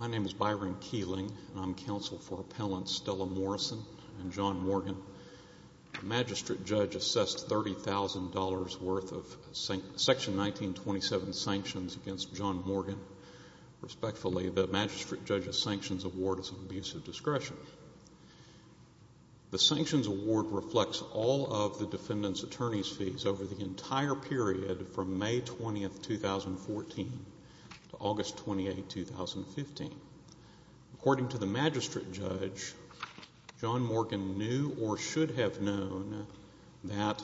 My name is Byron Keeling, and I am counsel for Appellants Stella Morrison and John Morgan. The magistrate judge assessed $30,000 worth of Section 1927 sanctions against John Morgan. Respectfully, the magistrate judge's sanctions award is an abuse of discretion. The sanctions award reflects all of the defendant's attorney's fees over the entire period from May 20, 2014 to August 28, 2015. According to the magistrate judge, John Morgan knew or should have known that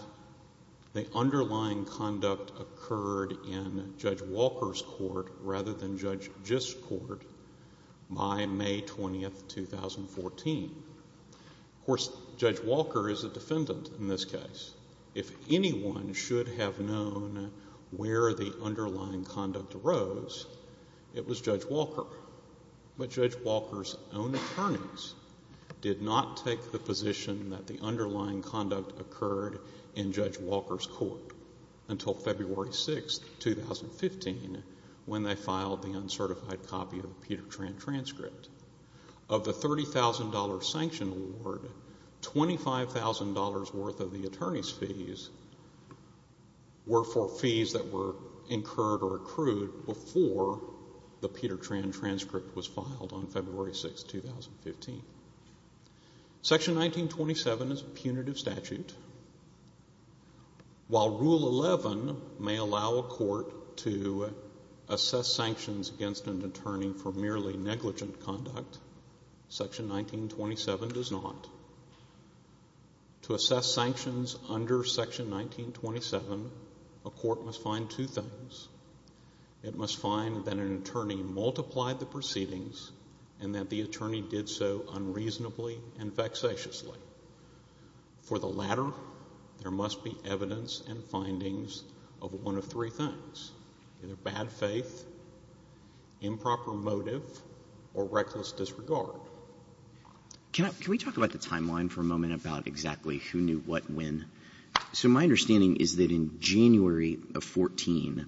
the underlying conduct occurred in Judge Walker's court rather than Judge Gist's court by May 20, 2014. Of course, Judge Walker is a defendant in this case. If anyone should have known where the underlying conduct arose, it was Judge Walker. But Judge Walker's own attorneys did not take the position that the underlying conduct occurred in Judge Walker's court until February 6, 2015, when they filed the uncertified copy of the Peter Tran transcript. Of the $30,000 sanction award, $25,000 worth of the attorney's fees were for fees that were incurred or accrued before the Peter Tran transcript was filed on February 6, 2015. Section 1927 is a punitive statute. While Rule 11 may allow a court to assess sanctions against an attorney for merely negligent conduct, Section 1927 does not. To assess sanctions under Section 1927, a court must find two things. It must find that an attorney multiplied the proceedings and that the attorney did so unreasonably and vexatiously. For the latter, there must be evidence and findings of one of three things, either bad faith, improper motive, or reckless disregard. Can we talk about the timeline for a moment about exactly who knew what and when? So my understanding is that in January of 2014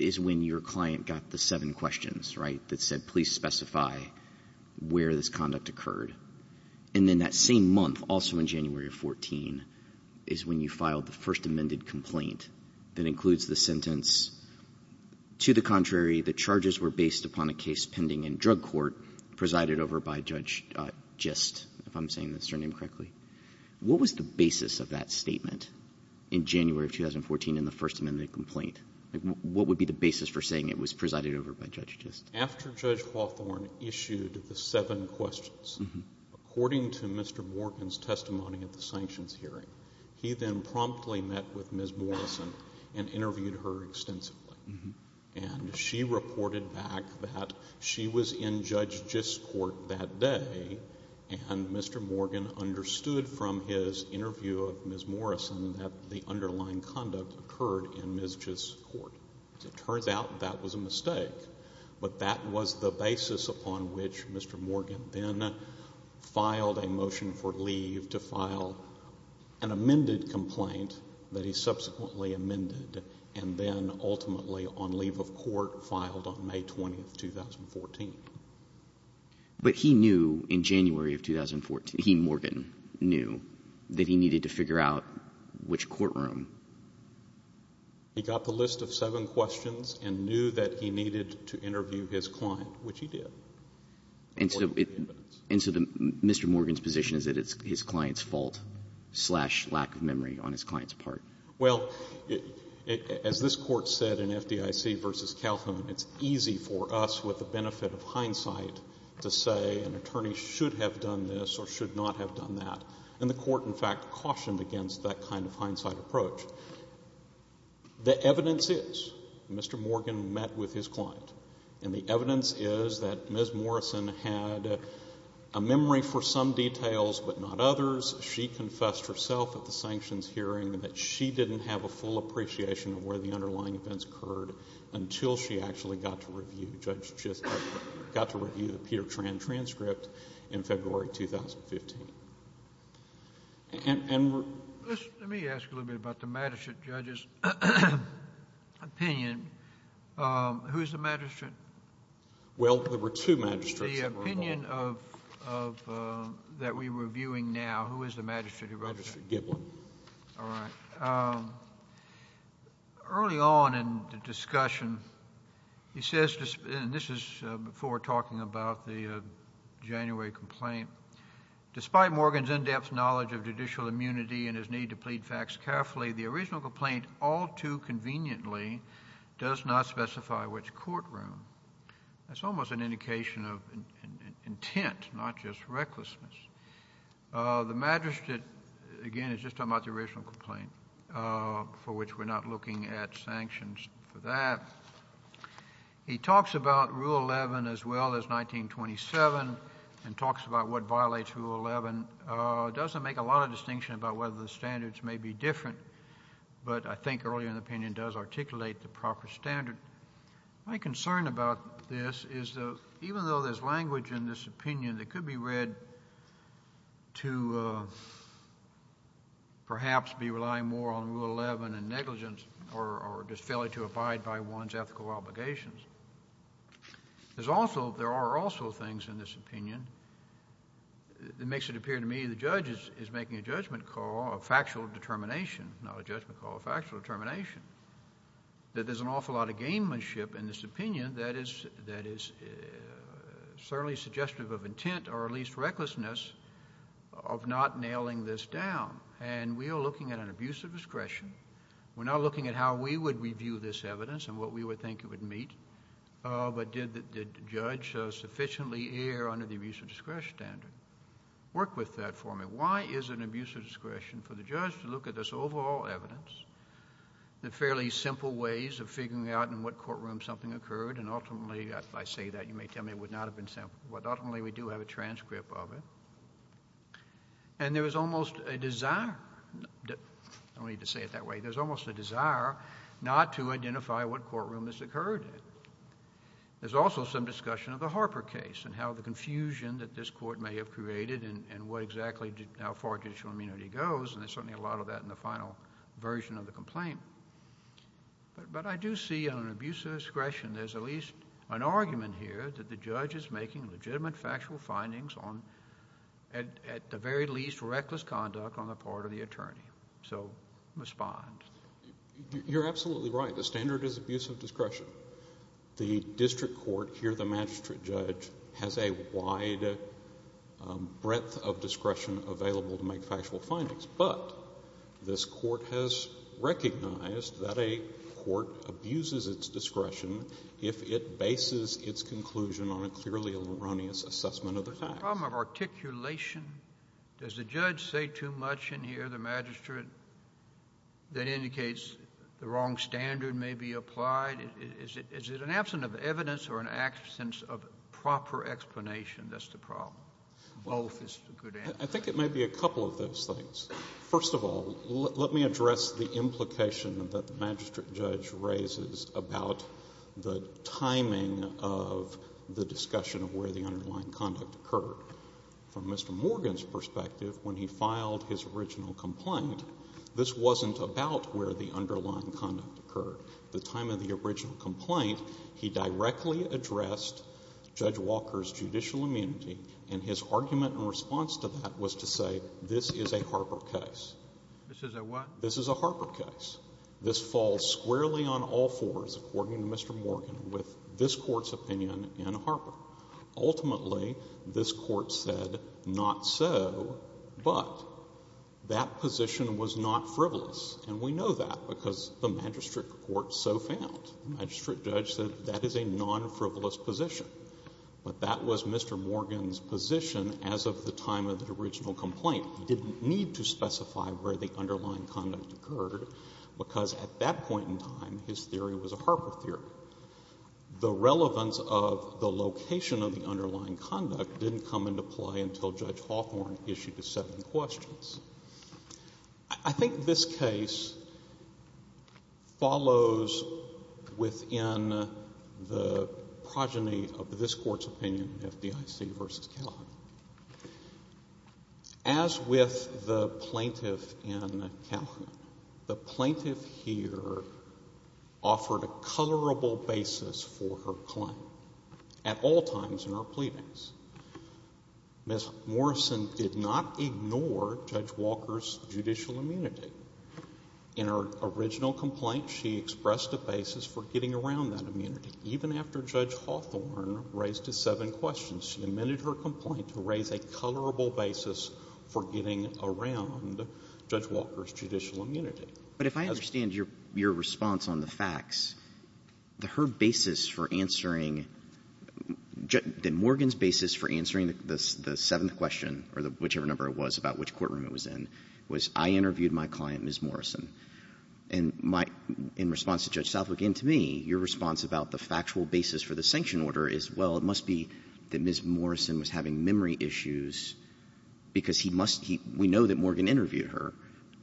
is when your client got the seven questions, right, that said, please specify where this conduct occurred. And then that same month, also in January of 2014, is when you filed the First Amended Complaint that includes the sentence, to the contrary, the charges were based upon a case pending in drug court presided over by Judge Gist, if I'm saying the surname correctly. What was the basis of that statement in January of 2014 in the First Amended Complaint? What would be the basis for saying it was presided over by Judge Gist? After Judge Hawthorne issued the seven questions, according to Mr. Morgan's testimony at the sanctions hearing, he then promptly met with Ms. Morrison and interviewed her extensively. And she reported back that she was in Judge Gist's court that day and Mr. Morgan understood from his interview of Ms. Morrison that the underlying conduct occurred in Ms. Gist's court. It turns out that was a mistake, but that was the basis upon which Mr. Morgan then filed a motion for leave to file an amended complaint that he subsequently amended and then ultimately on leave of court filed on May 20, 2014. But he knew in January of 2014, he, Morgan, knew that he needed to figure out which courtroom. He got the list of seven questions and knew that he needed to interview his client, which he did. And so Mr. Morgan's position is that it's his client's fault slash lack of memory on his client's part. Well, as this Court said in FDIC v. Calhoun, it's easy for us with the benefit of hindsight to say an attorney should have done this or should not have done that. And the Court, in fact, cautioned against that kind of hindsight approach. The evidence is Mr. Morgan met with his client, and the evidence is that Ms. Morrison had a memory for some details but not others. She confessed herself at the sanctions hearing that she didn't have a full appreciation of where the underlying events occurred until she actually got to review the Peter Tran transcript in February 2015. Let me ask a little bit about the magistrate judge's opinion. Who is the magistrate? Well, there were two magistrates that were involved. The opinion that we're reviewing now, who is the magistrate who wrote that? Magistrate Giblin. All right. Early on in the discussion, he says, and this is before talking about the January complaint, Despite Morgan's in-depth knowledge of judicial immunity and his need to plead facts carefully, the original complaint all too conveniently does not specify which courtroom. That's almost an indication of intent, not just recklessness. The magistrate, again, is just talking about the original complaint, for which we're not looking at sanctions for that. He talks about Rule 11 as well as 1927 and talks about what violates Rule 11. Doesn't make a lot of distinction about whether the standards may be different, but I think earlier in the opinion does articulate the proper standard. My concern about this is that even though there's language in this opinion that could be read to perhaps be relying more on Rule 11 and negligence or just failure to abide by one's ethical obligations, there are also things in this opinion that makes it appear to me the judge is making a judgment call, a factual determination, not a judgment call, a factual determination, that there's an awful lot of gamemanship in this opinion that is certainly suggestive of intent or at least recklessness of not nailing this down, and we are looking at an abuse of discretion. We're not looking at how we would review this evidence and what we would think it would meet, but did the judge sufficiently err under the abuse of discretion standard? Work with that for me. Why is an abuse of discretion for the judge to look at this overall evidence, the fairly simple ways of figuring out in what courtroom something occurred, and ultimately I say that, you may tell me it would not have been simple, but ultimately we do have a transcript of it, and there is almost a desire, I don't need to say it that way, there's almost a desire not to identify what courtroom this occurred in. There's also some discussion of the Harper case and how the confusion that this court may have created and what exactly, how far judicial immunity goes, and there's certainly a lot of that in the final version of the complaint, but I do see an abuse of discretion, there's at least an argument here that the judge is making legitimate factual findings on, at the very least, reckless conduct on the part of the attorney, so respond. You're absolutely right. The standard is abuse of discretion. The district court, here the magistrate judge, has a wide breadth of discretion available to make factual findings, but this court has recognized that a court abuses its discretion if it bases its conclusion on a clearly erroneous assessment of the facts. The problem of articulation, does the judge say too much in here, the magistrate, that indicates the wrong standard may be applied? Is it an absence of evidence or an absence of proper explanation that's the problem? Both is a good answer. I think it may be a couple of those things. First of all, let me address the implication that the magistrate judge raises about the timing of the discussion of where the underlying conduct occurred. From Mr. Morgan's perspective, when he filed his original complaint, this wasn't about where the underlying conduct occurred. The time of the original complaint, he directly addressed Judge Walker's judicial immunity, and his argument in response to that was to say this is a Harper case. This is a what? This is a Harper case. This falls squarely on all fours, according to Mr. Morgan, with this court's opinion in Harper. Ultimately, this court said not so, but that position was not frivolous, and we know that because the magistrate court so found. The magistrate judge said that is a non-frivolous position. But that was Mr. Morgan's position as of the time of the original complaint. He didn't need to specify where the underlying conduct occurred, because at that point in time, his theory was a Harper theory. The relevance of the location of the underlying conduct didn't come into play until Judge Hawthorne issued the seven questions. I think this case follows within the progeny of this court's opinion, FDIC v. Calhoun. As with the plaintiff in Calhoun, the plaintiff here offered a colorable basis for her claim at all times in her pleadings. Ms. Morrison did not ignore Judge Walker's judicial immunity. In her original complaint, she expressed a basis for getting around that immunity. Even after Judge Hawthorne raised the seven questions, she amended her complaint to raise a colorable basis for getting around Judge Walker's judicial immunity. But if I understand your response on the facts, her basis for answering – Morgan's basis for answering the seventh question, or whichever number it was about which courtroom it was in, was I interviewed my client, Ms. Morrison. And my – in response to Judge Southwick and to me, your response about the factual basis for the sanction order is, well, it must be that Ms. Morrison was having memory issues because he must – we know that Morgan interviewed her.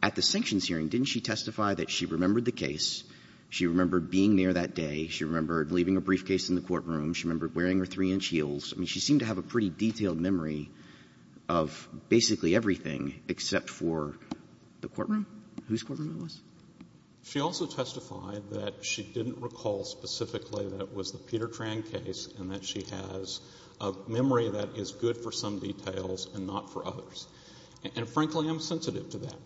At the sanctions hearing, didn't she testify that she remembered the case? She remembered being there that day. She remembered leaving a briefcase in the courtroom. She remembered wearing her 3-inch heels. I mean, she seemed to have a pretty detailed memory of basically everything except for the courtroom, whose courtroom it was. She also testified that she didn't recall specifically that it was the Peter Tran case and that she has a memory that is good for some details and not for others. And frankly, I'm sensitive to that.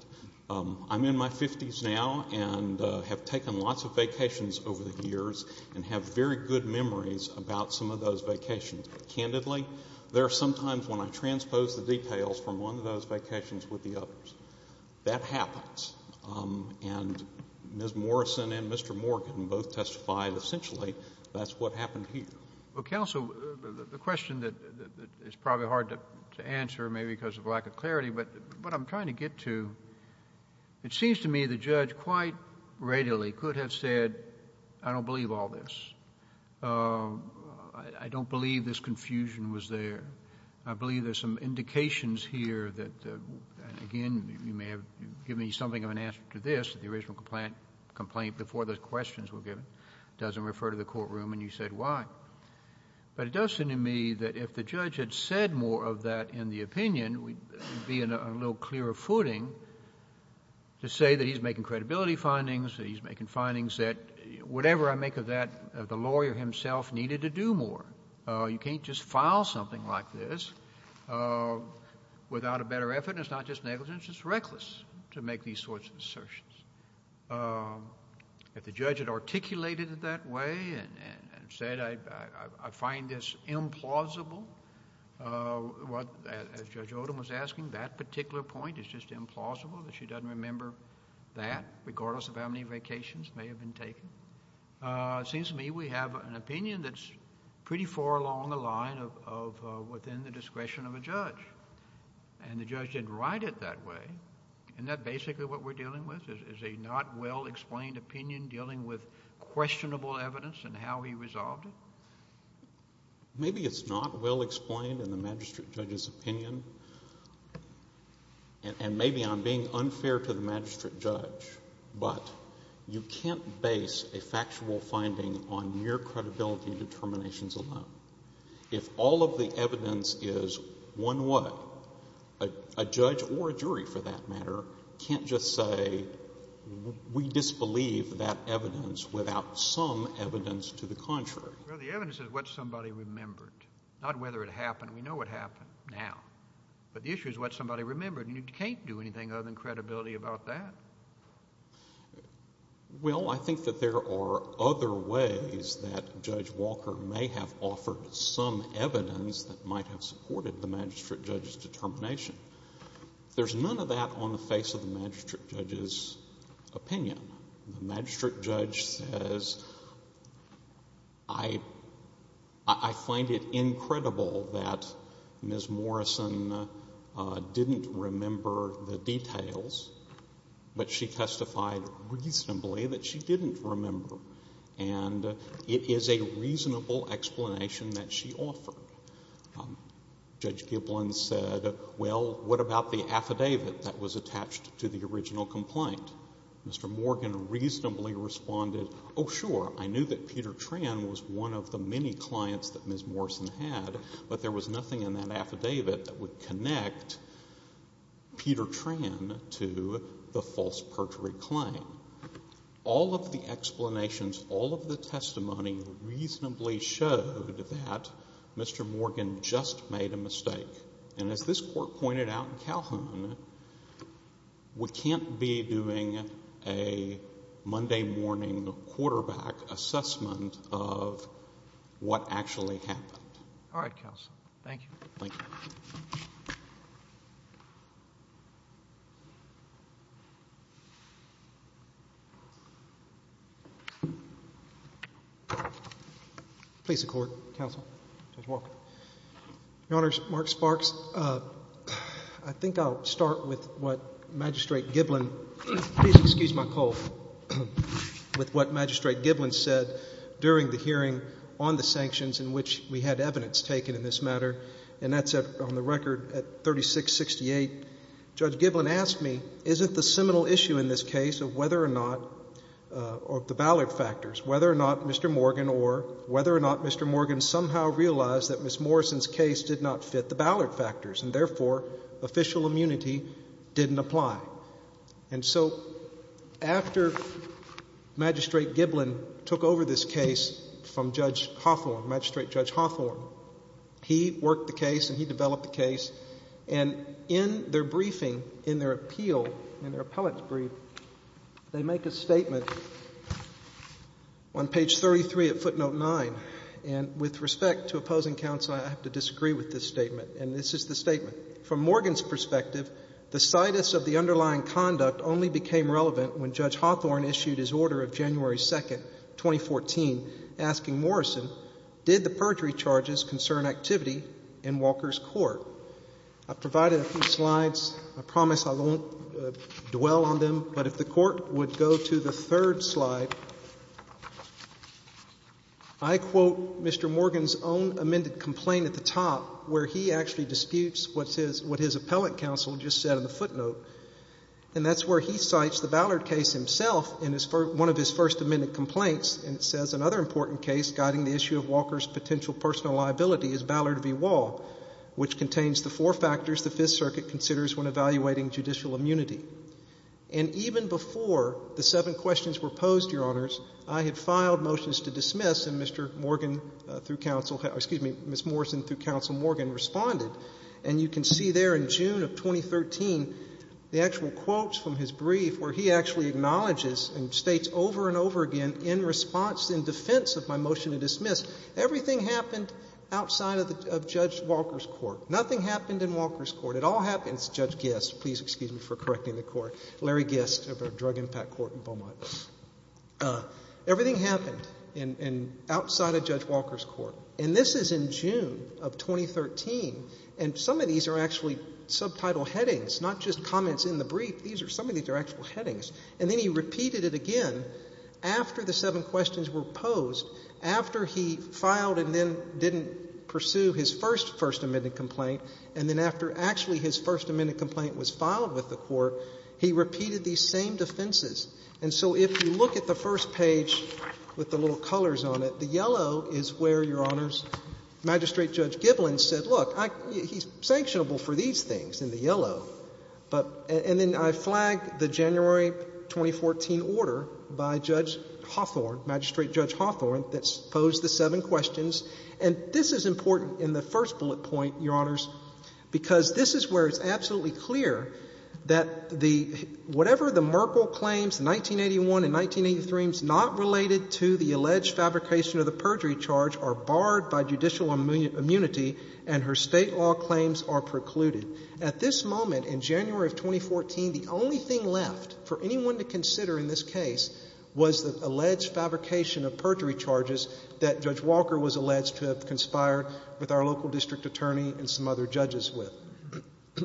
I'm in my 50s now and have taken lots of vacations over the years and have very good memories about some of those vacations. Candidly, there are some times when I transpose the details from one of those vacations with the others. That happens. And Ms. Morrison and Mr. Morgan both testified essentially that's what happened here. Counsel, the question that is probably hard to answer maybe because of lack of clarity, but what I'm trying to get to, it seems to me the judge quite readily could have said, I don't believe all this. I don't believe this confusion was there. I believe there's some indications here that, again, you may have given me something of an answer to this, the original complaint before the questions were given. It doesn't refer to the courtroom and you said why. But it does seem to me that if the judge had said more of that in the opinion, it would be a little clearer footing to say that he's making credibility findings, that he's making findings that whatever I make of that, the lawyer himself needed to do more. You can't just file something like this without a better effort, and it's not just negligence, it's just reckless to make these sorts of assertions. If the judge had articulated it that way and said I find this implausible, as Judge Odom was asking, that particular point is just implausible that she doesn't remember that, regardless of how many vacations may have been taken. It seems to me we have an opinion that's pretty far along the line of within the discretion of a judge, and the judge didn't write it that way. Isn't that basically what we're dealing with, is a not well explained opinion dealing with questionable evidence and how he resolved it? Maybe it's not well explained in the magistrate judge's opinion, and maybe I'm being unfair to the magistrate judge, but you can't base a factual finding on your credibility determinations alone. If all of the evidence is one what, a judge or a jury, for that matter, can't just say we disbelieve that evidence without some evidence to the contrary. Well, the evidence is what somebody remembered, not whether it happened. We know what happened now, but the issue is what somebody remembered, and you can't do anything other than credibility about that. Well, I think that there are other ways that Judge Walker may have offered some evidence that might have supported the magistrate judge's determination. There's none of that on the face of the magistrate judge's opinion. The magistrate judge says, I find it incredible that Ms. Morrison didn't remember the details, but she testified reasonably that she didn't remember, and it is a reasonable explanation that she offered. Judge Giblin said, well, what about the affidavit that was attached to the original complaint? Mr. Morgan reasonably responded, oh, sure, I knew that Peter Tran was one of the many clients that Ms. Morrison had, but there was nothing in that affidavit that would connect Peter Tran to the false perjury claim. All of the explanations, all of the testimony reasonably showed that Mr. Morgan just made a mistake, and as this Court pointed out in Calhoun, we can't be doing a Monday morning quarterback assessment of what actually happened. All right, counsel. Thank you. Please support, counsel. Judge Walker. Your Honor, Mark Sparks, I think I'll start with what Magistrate Giblin, please excuse my cold, with what Magistrate Giblin said during the hearing on the sanctions in which we had evidence taken in this matter, and that's on the record at 3668. Judge Giblin asked me, isn't the seminal issue in this case of whether or not the Ballard factors, whether or not Mr. Morgan or whether or not Mr. Morgan somehow realized that Ms. Morrison's case did not fit the Ballard factors, and therefore, official immunity didn't apply. And so after Magistrate Giblin took over this case from Judge Hawthorne, Magistrate Judge Hawthorne, he worked the case and he developed the case, and in their briefing, in their appeal, in their appellate's brief, they make a statement on page 33 at footnote 9, and with respect to opposing counsel, I have to disagree with this statement, and this is the statement. From Morgan's perspective, the situs of the underlying conduct only became relevant when Judge Hawthorne issued his order of January 2, 2014, asking Morrison, did the perjury charges concern activity in Walker's court? I provided a few slides. I promise I won't dwell on them, but if the Court would go to the third slide. I quote Mr. Morgan's own amended complaint at the top, where he actually disputes what his appellate counsel just said in the footnote, and that's where he cites the Ballard case himself in one of his first amended complaints, and it says, another important case guiding the issue of Walker's potential personal liability is Ballard v. Wall, which contains the four factors the Fifth Circuit considers when evaluating judicial immunity. And even before the seven questions were posed, Your Honors, I had filed motions to dismiss, and Mr. Morgan through counsel, excuse me, Ms. Morrison through counsel Morgan responded, and you can see there in June of 2013, the actual quotes from his brief where he actually acknowledges and states over and over again, in response, in defense of my motion to dismiss, everything happened outside of Judge Walker's court. Nothing happened in Walker's court. It all happens, Judge Gist, please excuse me for correcting the court, Larry Gist of our drug impact court in Beaumont. Everything happened outside of Judge Walker's court, and this is in June of 2013, and some of these are actually subtitle headings, not just comments in the brief. Some of these are actual headings. And then he repeated it again after the seven questions were posed, after he filed and then didn't pursue his first first amended complaint, and then after actually his first amended complaint was filed with the court, he repeated these same defenses. And so if you look at the first page with the little colors on it, the yellow is where, Your Honors, Magistrate Judge Giblin said, look, he's sanctionable for these things in the yellow. And then I flagged the January 2014 order by Judge Hawthorne, Magistrate Judge Hawthorne that posed the seven questions. And this is important in the first bullet point, Your Honors, because this is where it's absolutely clear that whatever the Merkle claims, 1981 and 1983, not related to the alleged fabrication of the perjury charge are barred by judicial immunity and her state law claims are precluded. At this moment, in January of 2014, the only thing left for anyone to consider in this case was the alleged fabrication of perjury charges that Judge Walker was alleged to have conspired with our local district attorney and some other judges with.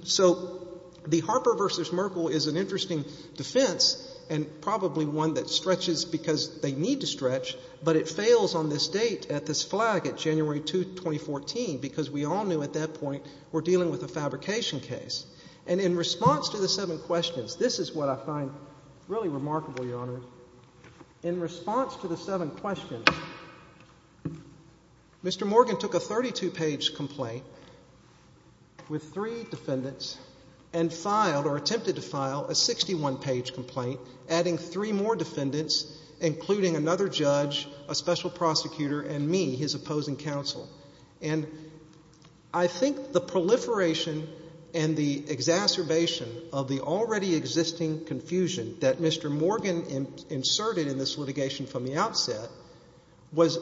So the Harper v. Merkle is an interesting defense and probably one that stretches because they need to stretch, but it fails on this date at this flag at January 2, 2014, because we all knew at that point we're dealing with a fabrication case. And in response to the seven questions, this is what I find really remarkable, Your Honors, in response to the seven questions, Mr. Morgan took a 32-page complaint with three defendants and filed or attempted to file a 61-page complaint, adding three more defendants, including another judge, a special prosecutor, and me, his opposing counsel. And I think the proliferation and the exacerbation of the already existing confusion that Mr. Morgan inserted in this litigation from the outset was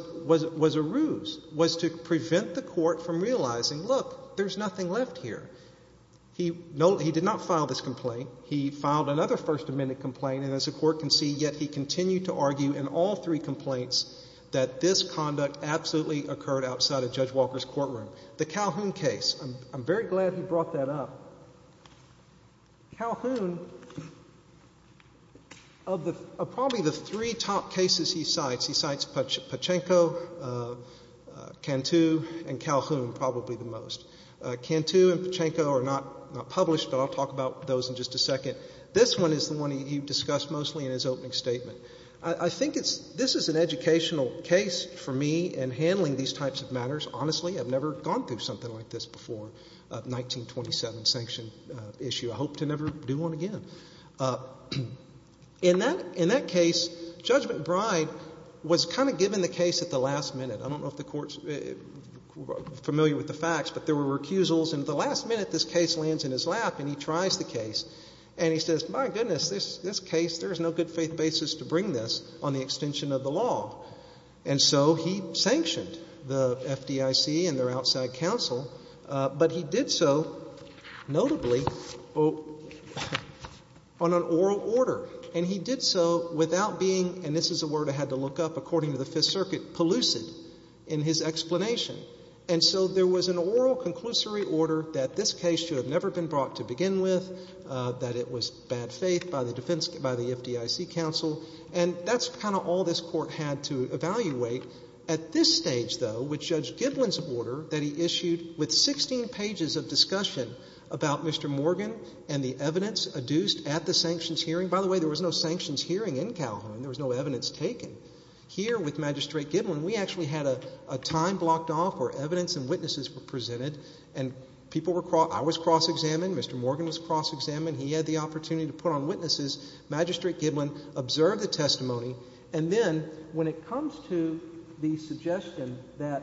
a ruse, was to prevent the court from realizing, look, there's nothing left here. He did not file this complaint. He filed another First Amendment complaint, and as the court can see, yet he continued to argue in all three complaints that this conduct absolutely occurred outside of Judge Walker's courtroom. The Calhoun case, I'm very glad he brought that up. Calhoun, of probably the three top cases he cites, he cites Pachinko, Cantu, and Calhoun probably the most. Cantu and Pachinko are not published, but I'll talk about those in just a second. This one is the one he discussed mostly in his opening statement. I think this is an educational case for me in handling these types of matters. Honestly, I've never gone through something like this before, a 1927 sanction issue. I hope to never do one again. In that case, Judge McBride was kind of given the case at the last minute. I don't know if the court's familiar with the facts, but there were recusals, and at the last minute, this case lands in his lap and he tries the case. And he says, my goodness, this case, there is no good faith basis to bring this on the extension of the law. And so he sanctioned the FDIC and their outside counsel, but he did so notably on an oral order. And he did so without being, and this is a word I had to look up according to the Fifth Circuit, pellucid in his explanation. And so there was an oral conclusory order that this case should have never been brought to begin with, that it was bad faith by the FDIC counsel. And that's kind of all this court had to evaluate. At this stage, though, with Judge Giblin's order that he issued with 16 pages of discussion about Mr. Morgan and the evidence adduced at the sanctions hearing. By the way, there was no sanctions hearing in Calhoun. There was no evidence taken. Here with Magistrate Giblin, we actually had a time blocked off where evidence and witnesses were presented. And people were, I was cross-examined. Mr. Morgan was cross-examined. He had the opportunity to put on witnesses. Magistrate Giblin observed the testimony. And then when it comes to the suggestion that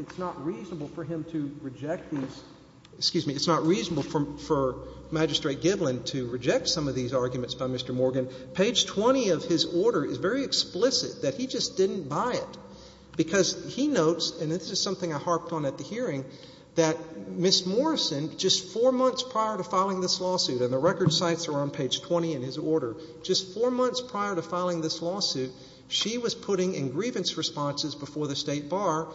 it's not reasonable for him to reject these, excuse me, it's not reasonable for Magistrate Giblin to reject some of these arguments by Mr. Morgan, page 20 of his order is very explicit that he just didn't buy it, because he notes, and this is something I harped on at the hearing, that Ms. Morrison, just four months prior to filing this lawsuit, and the record sites are on this lawsuit, she was putting in grievance responses before the State Bar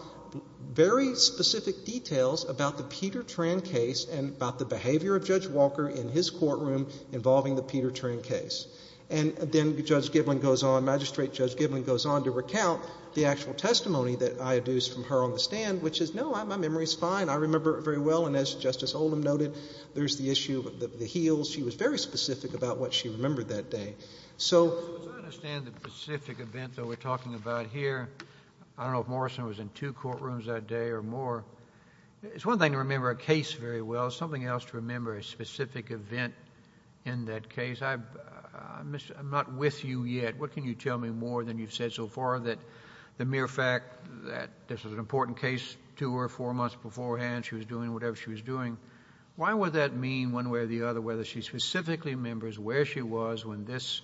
very specific details about the Peter Tran case and about the behavior of Judge Walker in his courtroom involving the Peter Tran case. And then Judge Giblin goes on, Magistrate Judge Giblin goes on to recount the actual testimony that I adduced from her on the stand, which is, no, my memory is fine. I remember it very well. And as Justice Olam noted, there's the issue of the heels. She was very specific about what she remembered that day. So as I understand the specific event that we're talking about here, I don't know if Morrison was in two courtrooms that day or more. It's one thing to remember a case very well. It's something else to remember a specific event in that case. I'm not with you yet. What can you tell me more than you've said so far that the mere fact that this was an important case to her four months beforehand, she was doing whatever she was doing, why would that mean one way or the other whether she specifically remembers where she was when this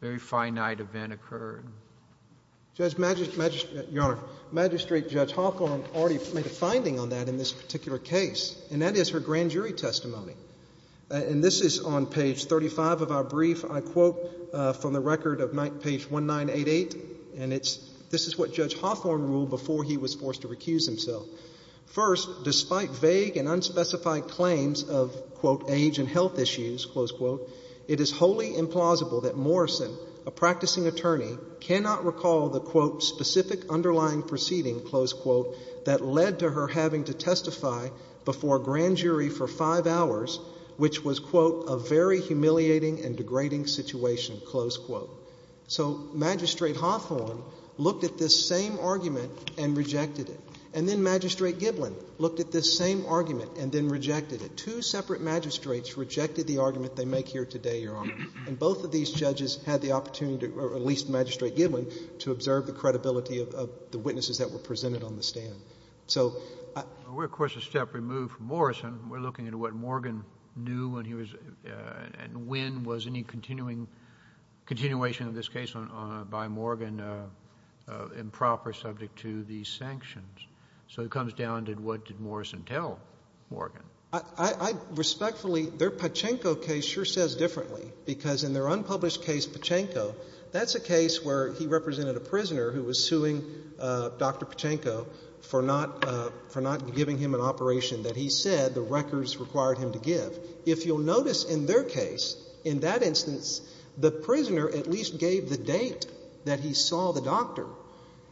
very finite event occurred? Your Honor, Magistrate Judge Hawthorne already made a finding on that in this particular case, and that is her grand jury testimony. And this is on page 35 of our brief. I quote from the record of page 1988, and this is what Judge Hawthorne ruled before he was forced to recuse himself. First, despite vague and unspecified claims of, quote, age and health issues, close quote, it is wholly implausible that Morrison, a practicing attorney, cannot recall the, quote, specific underlying proceeding, close quote, that led to her having to testify before a grand jury for five hours, which was, quote, a very humiliating and degrading situation, close quote. So Magistrate Hawthorne looked at this same argument and rejected it. And then Magistrate Giblin looked at this same argument and then rejected it. Two separate magistrates rejected the argument they make here today, Your Honor. And both of these judges had the opportunity, or at least Magistrate Giblin, to observe the credibility of the witnesses that were presented on the stand. So I— We're, of course, a step removed from Morrison. We're looking at what Morgan knew when he was—and when was any continuing—continuation of this case by Morgan improper subject to these sanctions? So it comes down to what did Morrison tell Morgan? I respectfully—their Pachinko case sure says differently because in their unpublished case, Pachinko, that's a case where he represented a prisoner who was suing Dr. Pachinko for not giving him an operation that he said the records required him to give. If you'll notice in their case, in that instance, the prisoner at least gave the date that he saw the doctor.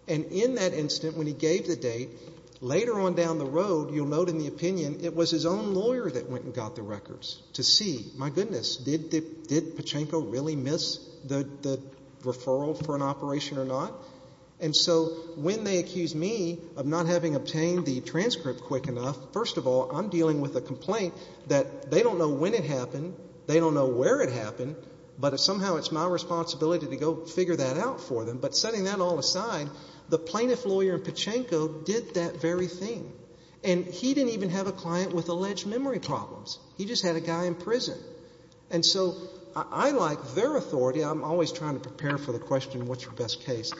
And in that instant when he gave the date, later on down the road, you'll note in the opinion, it was his own lawyer that went and got the records to see, my goodness, did Pachinko really miss the referral for an operation or not? And so when they accuse me of not having obtained the transcript quick enough, first of all, I'm dealing with a complaint that they don't know when it happened, they don't know where it happened, but somehow it's my responsibility to go figure that out for them. But setting that all aside, the plaintiff lawyer in Pachinko did that very thing. And he didn't even have a client with alleged memory problems. He just had a guy in prison. And so I like their authority. I'm always trying to prepare for the question what's your best case.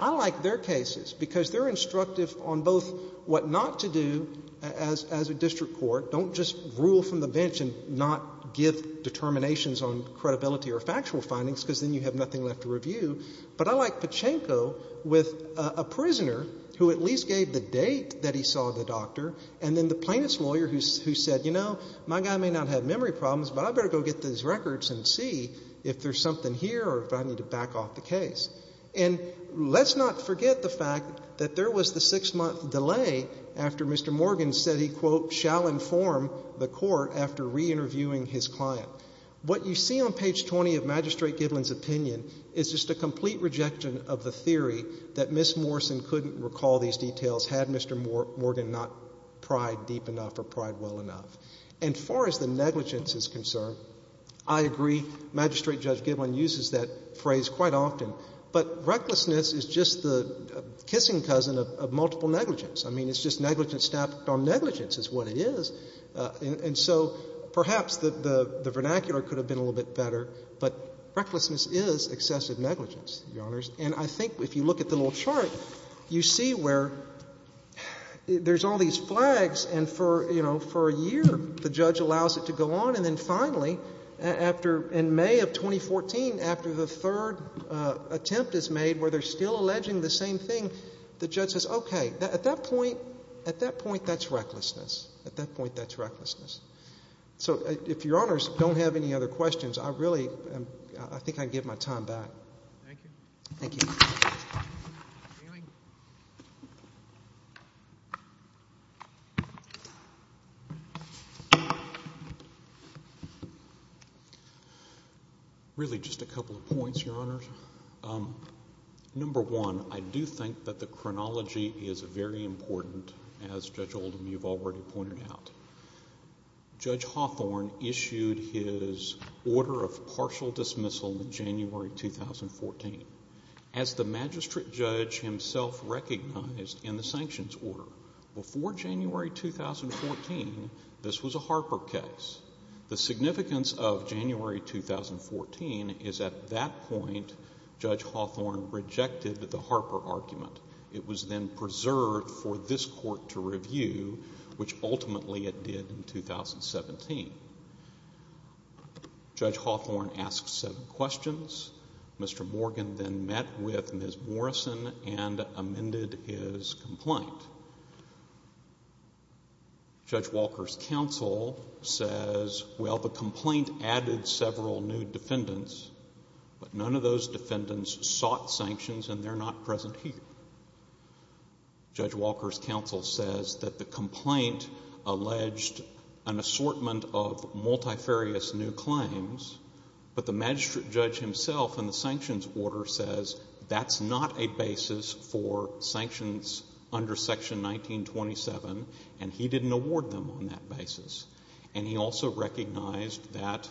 I like their cases because they're instructive on both what not to do as a district court, don't just rule from the bench and not give determinations on credibility or factual findings because then you have nothing left to review. But I like Pachinko with a prisoner who at least gave the date that he saw the doctor and then the plaintiff's lawyer who said, you know, my guy may not have memory problems, but I better go get these records and see if there's something here or if I need to back off the case. And let's not forget the fact that there was the six-month delay after Mr. Morgan said he, quote, shall inform the court after reinterviewing his client. What you see on page 20 of Magistrate Gidlin's opinion is just a complete rejection of the theory that Ms. Morrison couldn't recall these details had Mr. Morgan not pried deep enough or pried well enough. And far as the negligence is concerned, I agree, Magistrate Judge Gidlin uses that but recklessness is just the kissing cousin of multiple negligence. I mean, it's just negligence stacked on negligence is what it is. And so perhaps the vernacular could have been a little bit better, but recklessness is excessive negligence, Your Honors. And I think if you look at the little chart, you see where there's all these flags and for, you know, for a year the judge allows it to go on. And then finally, after in May of 2014, after the third attempt is made where they're still alleging the same thing, the judge says, okay, at that point, at that point that's recklessness. At that point that's recklessness. So if Your Honors don't have any other questions, I really am, I think I give my time back. Thank you. Thank you. Really just a couple of points, Your Honors. Number one, I do think that the chronology is very important, as Judge Oldham you've already pointed out. Judge Hawthorne issued his order of partial dismissal in January 2014. As the magistrate judge himself recognized in the sanctions order, before January 2014 this was a Harper case. The significance of January 2014 is at that point Judge Hawthorne rejected the Harper argument. It was then preserved for this court to review, which ultimately it did in 2017. Judge Hawthorne asks seven questions. Mr. Morgan then met with Ms. Morrison and amended his complaint. Judge Walker's counsel says, well, the complaint added several new defendants, but none of those defendants sought sanctions and they're not present here. Judge Walker's counsel says that the complaint alleged an assortment of order says that's not a basis for sanctions under Section 1927 and he didn't award them on that basis. And he also recognized that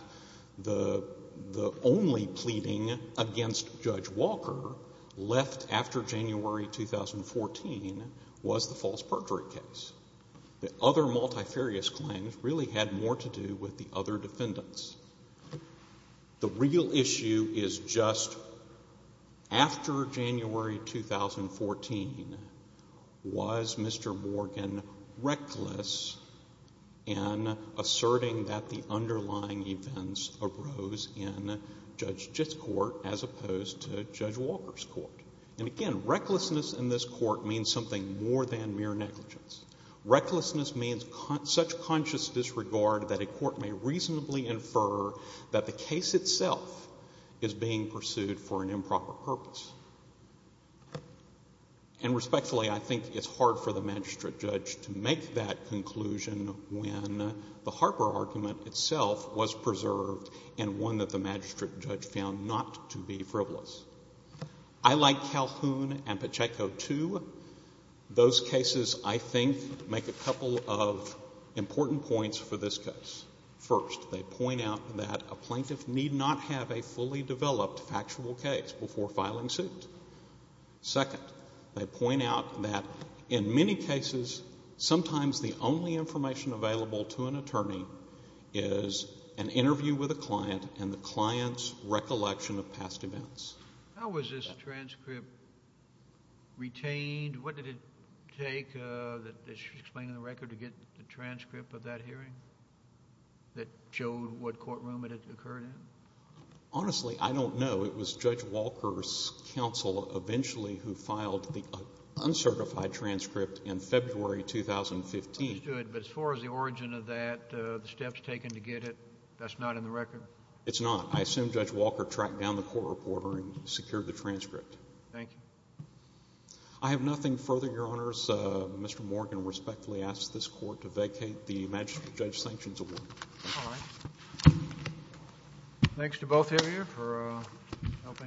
the only pleading against Judge Walker left after January 2014 was the false perjury case. The other multifarious claims really had more to do with the other defendants. The real issue is just after January 2014 was Mr. Morgan reckless in asserting that the underlying events arose in Judge Jitt's court as opposed to Judge Walker's court. And, again, recklessness in this court means something more than mere negligence. Recklessness means such conscious disregard that a court may reasonably infer that the case itself is being pursued for an improper purpose. And respectfully, I think it's hard for the magistrate judge to make that conclusion when the Harper argument itself was preserved and one that the magistrate judge found not to be frivolous. I like Calhoun and Pacheco, too. Those cases, I think, make a couple of important points for this case. First, they point out that a plaintiff need not have a fully developed factual case before filing suit. Second, they point out that in many cases, sometimes the only information available to an attorney is an interview with a client and the client's recollection of past events. How was this transcript retained? What did it take, explaining the record, to get the transcript of that hearing that showed what courtroom it had occurred in? Honestly, I don't know. It was Judge Walker's counsel eventually who filed the uncertified transcript in February 2015. Understood. But as far as the origin of that, the steps taken to get it, that's not in the record? It's not. I assume Judge Walker tracked down the court reporter and secured the transcript. Thank you. I have nothing further, Your Honors. Mr. Morgan respectfully asks this Court to vacate the Magistrate Judge Sanctions Award. All right. Thanks to both of you for helping us.